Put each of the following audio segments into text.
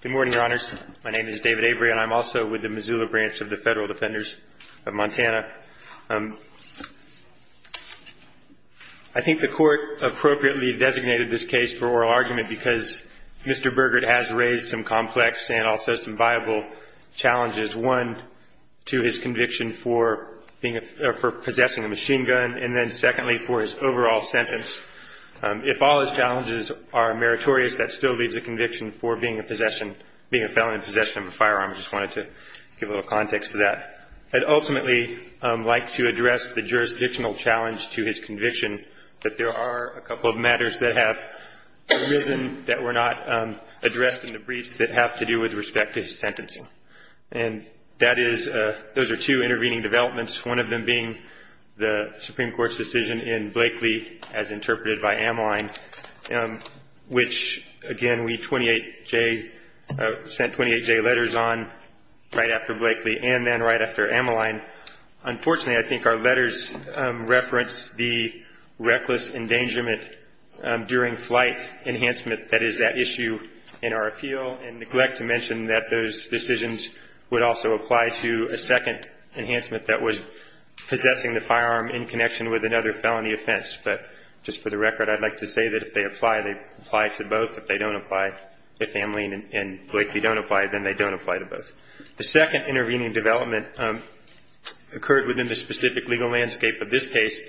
Good morning, Your Honors. My name is David Avery, and I'm also with the Missoula Branch of the Federal Defenders of Montana. I think the Court appropriately designated this case for oral argument because Mr. Burgert has raised some complex and also some viable challenges, one, to his conviction for possessing a machine gun, and then secondly, for his overall sentence. If all his challenges are meritorious, that still leaves a conviction for being a felon in possession of a firearm. I just wanted to give a little context to that. I'd ultimately like to address the jurisdictional challenge to his conviction, that there are a couple of matters that have arisen that were not addressed in the briefs that have to do with respect to his sentencing. Those are two intervening developments, one of them being the Supreme Court's decision in Blakeley, as interpreted by Ameline, which, again, we sent 28-J letters on right after Blakeley and then right after Ameline. Unfortunately, I think our letters reference the reckless endangerment during flight enhancement that is that issue in our appeal, and neglect to mention that those decisions would also apply to a second enhancement that was possessing the firearm in connection with another felony offense. But just for the record, I'd like to say that if they apply, they apply to both. If they don't apply, if Ameline and Blakeley don't apply, then they don't apply to both. The second intervening development occurred within the specific legal landscape of this case,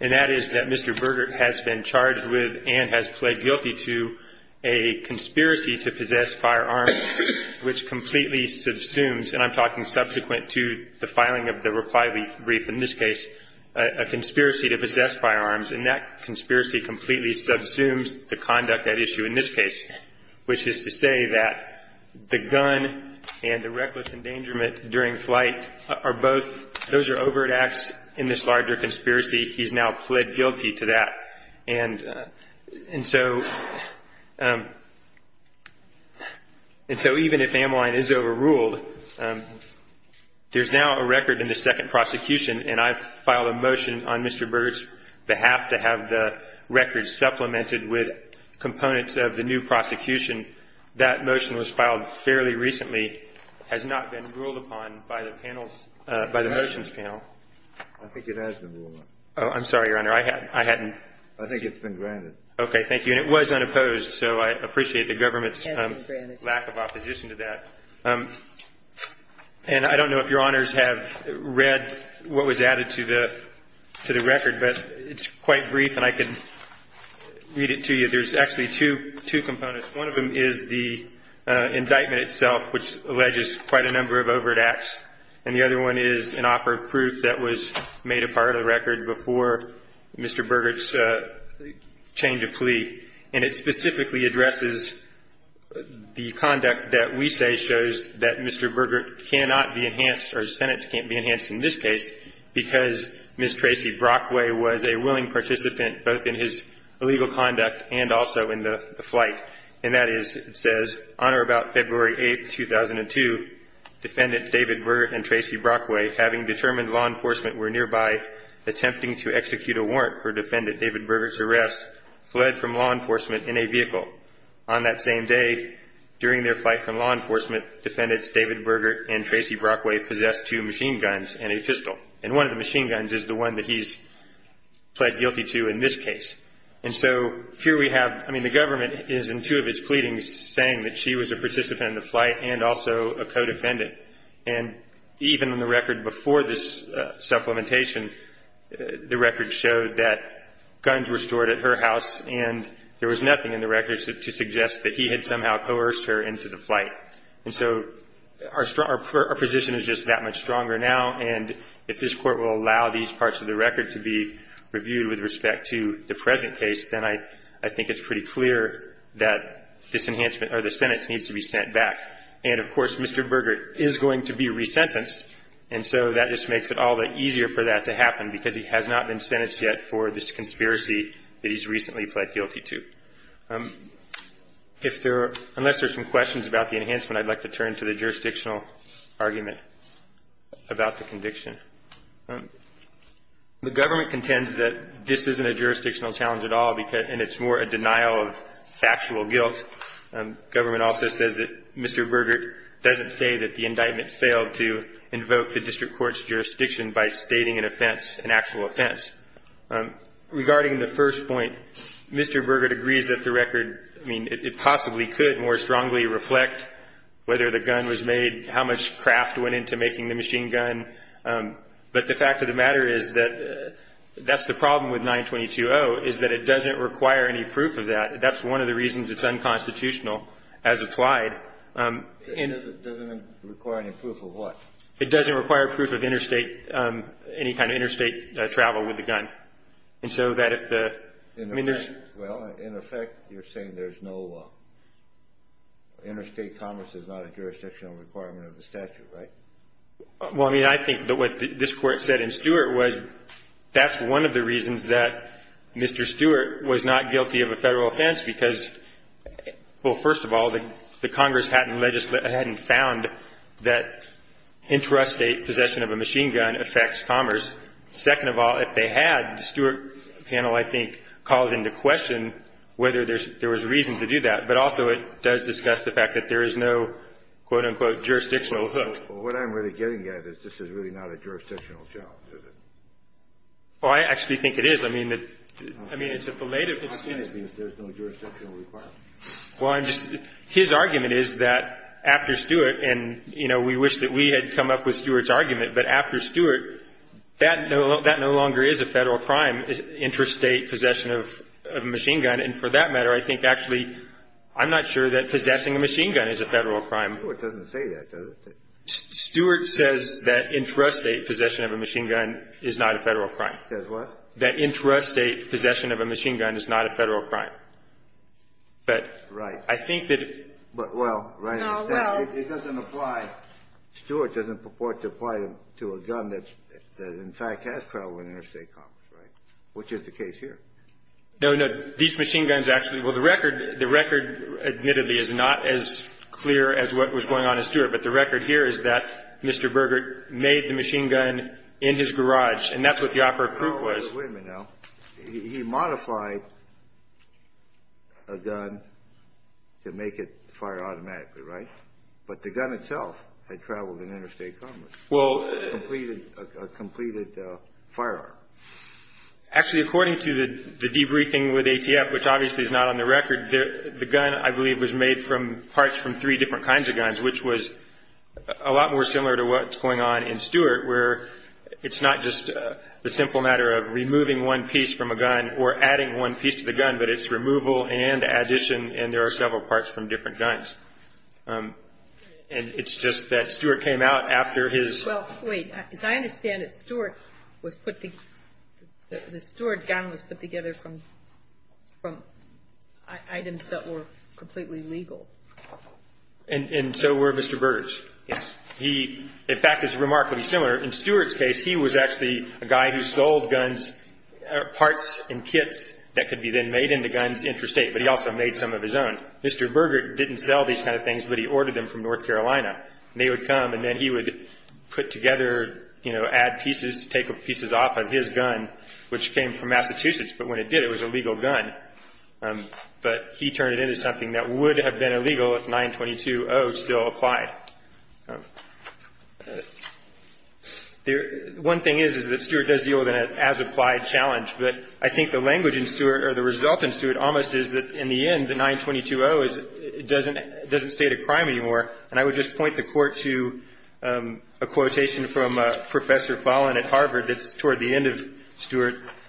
and that is that Mr. Burdett has been charged with and has pled guilty to a conspiracy to possess firearms, which completely subsumes, and I'm talking subsequent to the filing of the reply brief in this case, a conspiracy to possess firearms, and that conspiracy completely subsumes the conduct at issue in this case, which is to say that the gun and the reckless endangerment during flight are both, those are overt acts in this larger conspiracy. He's now pled guilty to that. And so even if Ameline is overruled, there's now a record in the second prosecution, and I filed a motion on Mr. Burdett's behalf to have the record supplemented with components of the new prosecution. That motion was filed fairly recently, has not been ruled upon by the panel's, by the motions panel. I think it has been ruled upon. Oh, I'm sorry, Your Honor. I hadn't. I think it's been granted. Okay. Thank you. And it was unopposed, so I appreciate the government's lack of opposition to that. And I don't know if Your Honors have read what was added to the record, but it's quite brief and I can read it to you. There's actually two components. One of them is the indictment itself, which alleges quite a number of overt acts. And the other one is an offer of proof that was made a part of the record before Mr. Burdett's change of plea. And it specifically addresses the conduct that we say shows that Mr. Burdett cannot be enhanced or his sentence can't be enhanced in this case because Ms. Tracy Brockway was a willing participant both in his illegal conduct and also in the flight. And that is, it says, on or about February 8, 2002, Defendants David Burdett and Tracy Brockway, having determined law enforcement were nearby, attempting to execute a warrant for Defendant David Burdett's arrest, fled from law enforcement in a vehicle. On that same day, during their flight from law enforcement, Defendants David Burdett and Tracy Brockway possessed two machine guns and a pistol. And one of the machine guns is the one that he's pled guilty to in this case. And so here we have, I mean, the government is in two of its pleadings saying that she was a participant in the flight and also a co-defendant. And even in the record before this supplementation, the record showed that guns were stored at her house and there was nothing in the record to suggest that he had somehow coerced her into the flight. And so our position is just that much stronger now. And if this Court will allow these parts of the record to be reviewed with respect to the present case, then I think it's pretty clear that this enhancement or the sentence needs to be sent back. And, of course, Mr. Burdett is going to be resentenced. And so that just makes it all the easier for that to happen, because he has not been sentenced yet for this conspiracy that he's recently pled guilty to. Unless there are some questions about the enhancement, I'd like to turn to the jurisdictional argument about the conviction. The government contends that this isn't a jurisdictional challenge at all, and it's more a denial of factual guilt. Government also says that Mr. Burdett doesn't say that the indictment failed to invoke the district court's jurisdiction by stating an offense, an actual offense. Regarding the first point, Mr. Burdett agrees that the record, I mean, it possibly could more strongly reflect whether the gun was made, how much craft went into making the machine gun. But the fact of the matter is that that's the problem with 922-0, is that it doesn't require any proof of that. That's one of the reasons it's unconstitutional as applied. It doesn't require any proof of what? It doesn't require proof of interstate, any kind of interstate travel with the gun. And so that if the- Well, in effect, you're saying there's no interstate commerce is not a jurisdictional requirement of the statute, right? Well, I mean, I think what this Court said in Stewart was that's one of the reasons that Mr. Stewart was not guilty of a federal offense, because, well, first of all, the Congress hadn't found that intrastate possession of a machine gun affects commerce. Second of all, if they had, the Stewart panel, I think, called into question whether there was reason to do that. But also it does discuss the fact that there is no, quote, unquote, jurisdictional hook. Well, what I'm really getting at is this is really not a jurisdictional job, is it? Well, I actually think it is. I mean, it's a belated- Well, I'm just, his argument is that after Stewart, and, you know, we wish that we had come up with Stewart's argument, but after Stewart, that no longer is a federal crime, interstate possession of a machine gun. And for that matter, I think actually I'm not sure that possessing a machine gun is a federal crime. Stewart doesn't say that, does he? Stewart says that intrastate possession of a machine gun is not a federal crime. Says what? That intrastate possession of a machine gun is not a federal crime. But I think that- Right. But, well, right. No, well- It doesn't apply. Stewart doesn't purport to apply to a gun that in fact has travel in interstate commerce, right? Which is the case here. No, no. These machine guns actually, well, the record, the record, admittedly, is not as clear as what was going on in Stewart. But the record here is that Mr. Burgert made the machine gun in his garage, and that's what the offer of proof was. Wait a minute now. He modified a gun to make it fire automatically, right? But the gun itself had traveled in interstate commerce. Well- A completed firearm. Actually, according to the debriefing with ATF, which obviously is not on the record, the gun, I believe, was made from parts from three different kinds of guns, which was a lot more similar to what's going on in Stewart, where it's not just the simple matter of removing one piece from a gun or adding one piece to the gun, but it's removal and addition, and there are several parts from different guns. And it's just that Stewart came out after his- Well, wait. As I understand it, Stewart was put- the Stewart gun was put together from items that were completely legal. And so were Mr. Burgert's. Yes. He, in fact, is remarkably similar. In Stewart's case, he was actually a guy who sold guns, parts and kits that could be then made into guns interstate, but he also made some of his own. Mr. Burgert didn't sell these kind of things, but he ordered them from North Carolina. And they would come, and then he would put together, you know, add pieces, take pieces off of his gun, which came from Massachusetts, but when it did, it was a legal gun. But he turned it into something that would have been illegal if 922-0 still applied. One thing is, is that Stewart does deal with an as-applied challenge. But I think the language in Stewart, or the result in Stewart, almost is that in the end, the 922-0 doesn't state a crime anymore. And I would just point the Court to a quotation from Professor Fallon at Harvard that's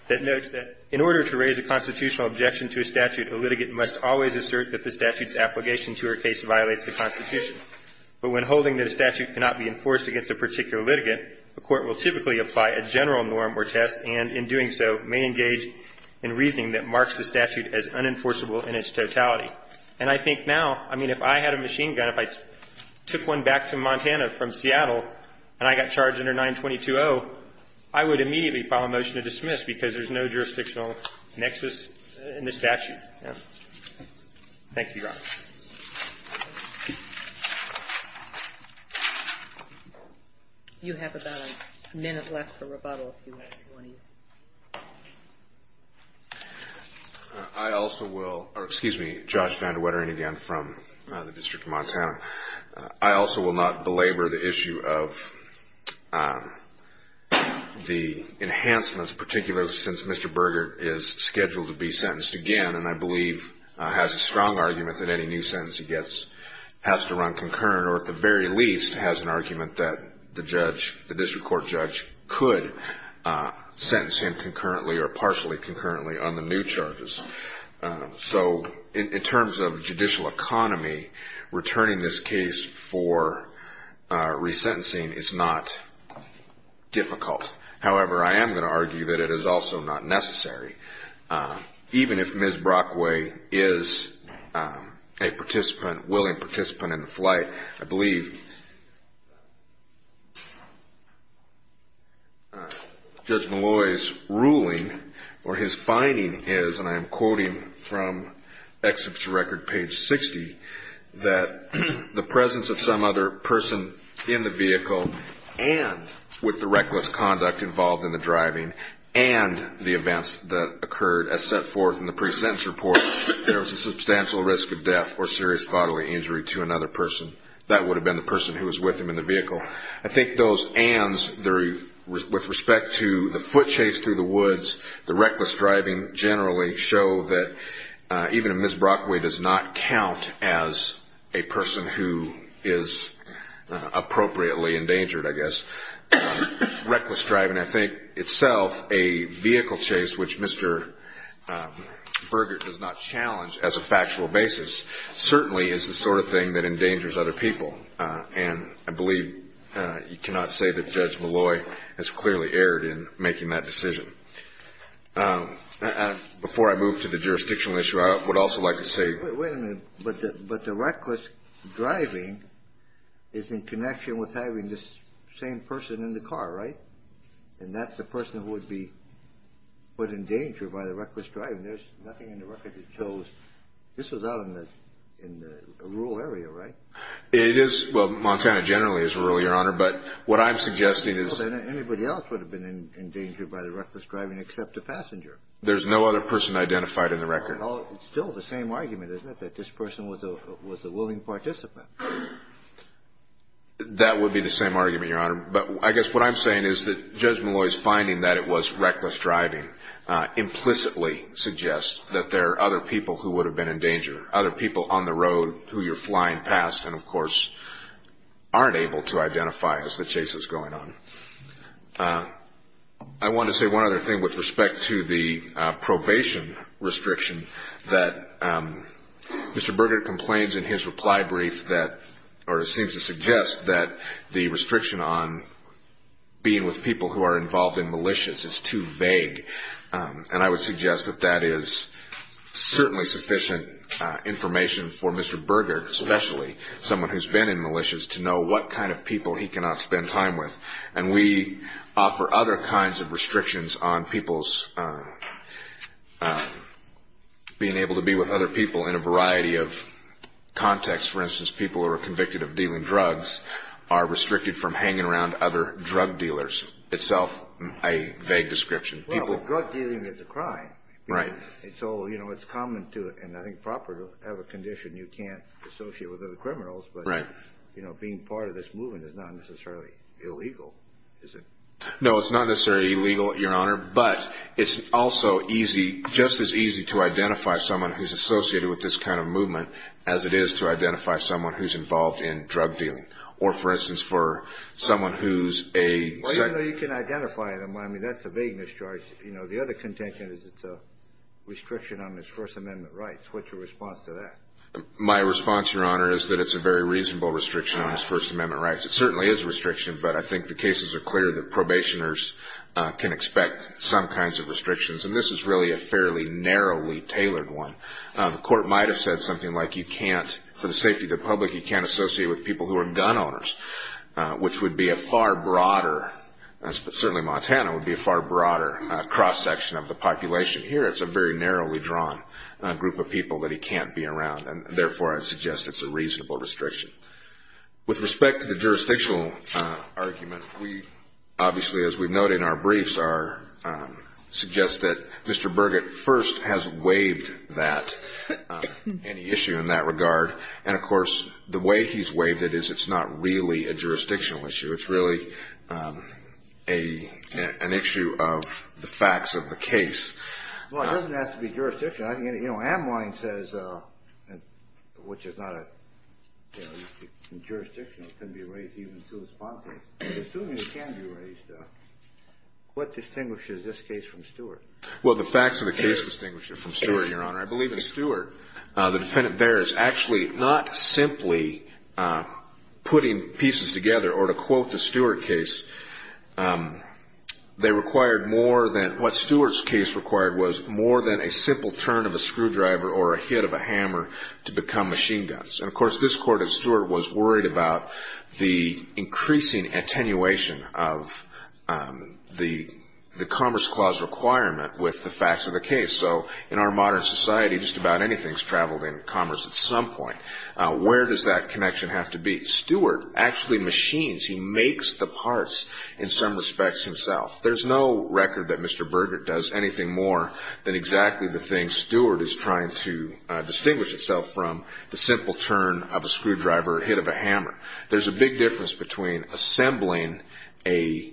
And I think now, I mean, if I had a machine gun, if I took one back to Montana from Seattle and I got charged under 922-0, I would immediately file a motion to dismiss because there's no jurisdictional obligation. Next is in the statute. Thank you, Your Honor. You have about a minute left for rebuttal, if you want to. I also will or excuse me, Josh Van de Wetteren again from the District of Montana. I also will not belabor the issue of the enhancements, particularly since Mr. Burgert is scheduled to be sentenced again and I believe has a strong argument that any new sentence he gets has to run concurrent or at the very least has an argument that the judge, the district court judge, could sentence him concurrently or partially concurrently on the new charges. So in terms of judicial economy, returning this case for resentencing is not difficult. However, I am going to argue that it is also not necessary, even if Ms. Brockway is a participant, willing participant in the flight. I believe Judge Malloy's ruling or his finding is, and I am quoting from Exhibiture Record, page 60, that the presence of some other person in the vehicle and with the reckless conduct involved in the driving and the events that occurred as set forth in the pre-sentence report, there was a substantial risk of death or serious bodily injury to another person. That would have been the person who was with him in the vehicle. I think those ands with respect to the foot chase through the woods, the reckless driving generally, I think show that even if Ms. Brockway does not count as a person who is appropriately endangered, I guess, reckless driving I think itself, a vehicle chase, which Mr. Burgert does not challenge as a factual basis, certainly is the sort of thing that endangers other people. And I believe you cannot say that Judge Malloy has clearly erred in making that decision. Before I move to the jurisdictional issue, I would also like to say. Wait a minute. But the reckless driving is in connection with having this same person in the car, right? And that's the person who would be put in danger by the reckless driving. There's nothing in the record that shows this was out in the rural area, right? It is. Well, Montana generally is rural, Your Honor, but what I'm suggesting is. Anybody else would have been in danger by the reckless driving except a passenger. There's no other person identified in the record. It's still the same argument, isn't it, that this person was a willing participant? That would be the same argument, Your Honor. But I guess what I'm saying is that Judge Malloy's finding that it was reckless driving implicitly suggests that there are other people who would have been in danger, other people on the road who you're flying past and, of course, aren't able to identify as the chasers going on. I want to say one other thing with respect to the probation restriction that Mr. Berger complains in his reply brief that or seems to suggest that the restriction on being with people who are involved in militias is too vague. And I would suggest that that is certainly sufficient information for Mr. Berger, especially someone who's been in militias, to know what kind of people he cannot spend time with. And we offer other kinds of restrictions on people's being able to be with other people in a variety of contexts. For instance, people who are convicted of dealing drugs are restricted from hanging around other drug dealers, itself a vague description. Well, but drug dealing is a crime. Right. And so, you know, it's common to, and I think proper to have a condition you can't associate with other criminals. Right. But, you know, being part of this movement is not necessarily illegal, is it? No, it's not necessarily illegal, Your Honor. But it's also easy, just as easy to identify someone who's associated with this kind of movement as it is to identify someone who's involved in drug dealing. Or, for instance, for someone who's a... Well, even though you can identify them, I mean, that's a vague mischarge. You know, the other contention is it's a restriction on his First Amendment rights. What's your response to that? My response, Your Honor, is that it's a very reasonable restriction on his First Amendment rights. It certainly is a restriction, but I think the cases are clear that probationers can expect some kinds of restrictions. And this is really a fairly narrowly tailored one. The court might have said something like you can't, for the safety of the public, you can't associate with people who are gun owners, which would be a far broader, certainly Montana would be a far broader cross-section of the population. Here it's a very narrowly drawn group of people that he can't be around. And, therefore, I suggest it's a reasonable restriction. With respect to the jurisdictional argument, we obviously, as we note in our briefs, suggest that Mr. Burgett first has waived that, any issue in that regard. And, of course, the way he's waived it is it's not really a jurisdictional issue. It's really an issue of the facts of the case. Well, it doesn't have to be jurisdictional. You know, Amwine says, which is not a jurisdiction, it can be raised even to his bond case. Assuming it can be raised, what distinguishes this case from Stewart? Well, the facts of the case distinguish it from Stewart, Your Honor. I believe in Stewart. The defendant there is actually not simply putting pieces together, or to quote the Stewart case, they required more than what Stewart's case required was more than a simple turn of a screwdriver or a hit of a hammer to become machine guns. And, of course, this Court of Stewart was worried about the increasing attenuation of the Commerce Clause requirement with the facts of the case. And so in our modern society, just about anything's traveled in commerce at some point. Where does that connection have to be? Stewart actually machines. He makes the parts in some respects himself. There's no record that Mr. Burgett does anything more than exactly the thing Stewart is trying to distinguish itself from, the simple turn of a screwdriver or hit of a hammer. There's a big difference between assembling an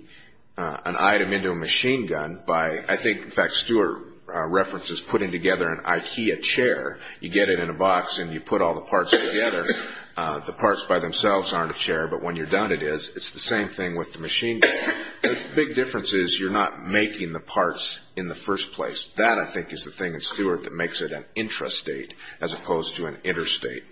item into a machine gun by, I think, in fact, Stewart references putting together an IKEA chair. You get it in a box and you put all the parts together. The parts by themselves aren't a chair, but when you're done it is. It's the same thing with the machine gun. The big difference is you're not making the parts in the first place. That, I think, is the thing in Stewart that makes it an intrastate as opposed to an interstate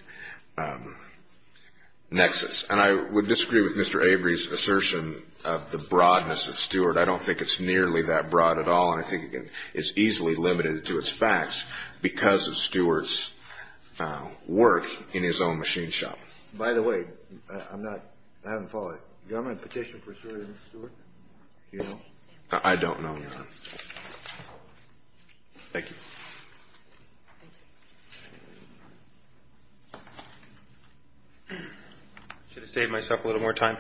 nexus. And I would disagree with Mr. Avery's assertion of the broadness of Stewart. I don't think it's nearly that broad at all. And I think, again, it's easily limited to its facts because of Stewart's work in his own machine shop. By the way, I haven't followed. Do I have my petition for Stewart? Do you know? I don't know, Your Honor. Thank you. I should have saved myself a little more time.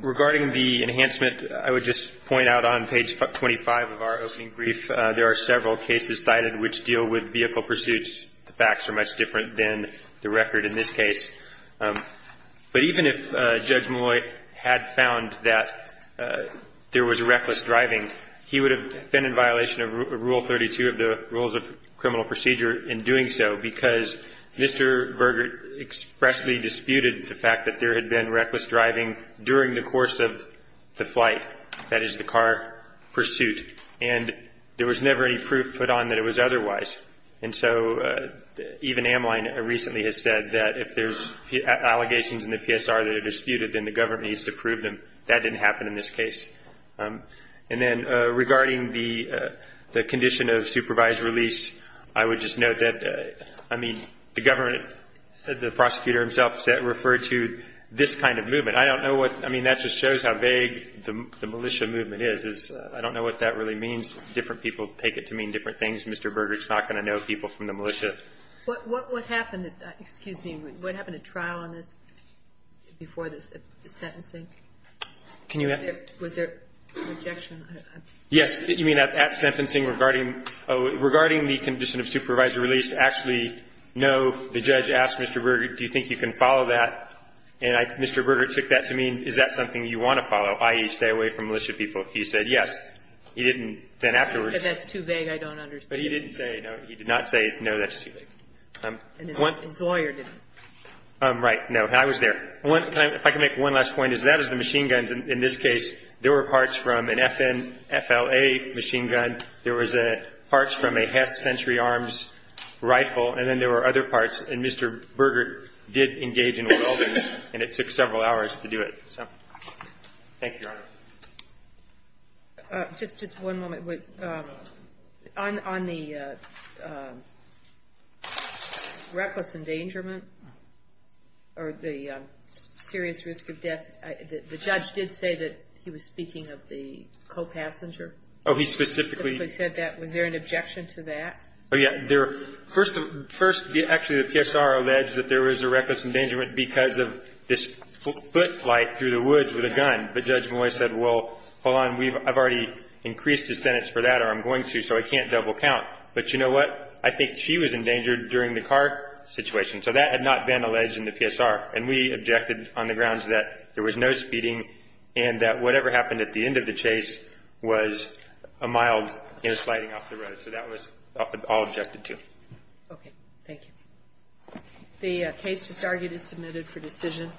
Regarding the enhancement, I would just point out on page 25 of our opening brief, there are several cases cited which deal with vehicle pursuits. The facts are much different than the record in this case. But even if Judge Malloy had found that there was reckless driving, he would have been in violation of Rule 32 of the Rules of Criminal Procedure in doing so because Mr. Virgert expressly disputed the fact that there had been reckless driving during the course of the flight. That is, the car pursuit. And there was never any proof put on that it was otherwise. And so even Amline recently has said that if there's allegations in the PSR that are disputed, then the government needs to prove them. That didn't happen in this case. And then regarding the condition of supervised release, I would just note that, I mean, the government, the prosecutor himself, referred to this kind of movement. I don't know what, I mean, that just shows how vague the militia movement is. I don't know what that really means. Different people take it to mean different things. Mr. Virgert's not going to know people from the militia. What happened at trial on this before the sentencing? Can you add? Was there an objection? Yes. You mean at sentencing regarding the condition of supervised release? Actually, no. The judge asked Mr. Virgert, do you think you can follow that? And Mr. Virgert took that to mean, is that something you want to follow, i.e., stay away from militia people? He said yes. He didn't then afterwards. If that's too vague, I don't understand. But he didn't say no. He did not say, no, that's too vague. And his lawyer didn't. Right. I was there. If I can make one last point, is that as the machine guns in this case, there were parts from an FLA machine gun, there was parts from a half-century arms rifle, and then there were other parts. And Mr. Virgert did engage in welding, and it took several hours to do it. Thank you, Your Honor. Just one moment. On the reckless endangerment or the serious risk of death, the judge did say that he was speaking of the co-passenger. Oh, he specifically. Specifically said that. Was there an objection to that? Oh, yeah. First, actually, the PSR alleged that there was a reckless endangerment because of this foot flight through the woods with a gun. But Judge Moy said, well, hold on, I've already increased his sentence for that, or I'm going to, so I can't double count. But you know what? I think she was endangered during the car situation. So that had not been alleged in the PSR. And we objected on the grounds that there was no speeding and that whatever happened at the end of the chase was a mild sliding off the road. So that was all objected to. Okay. Thank you. The case is submitted for decision.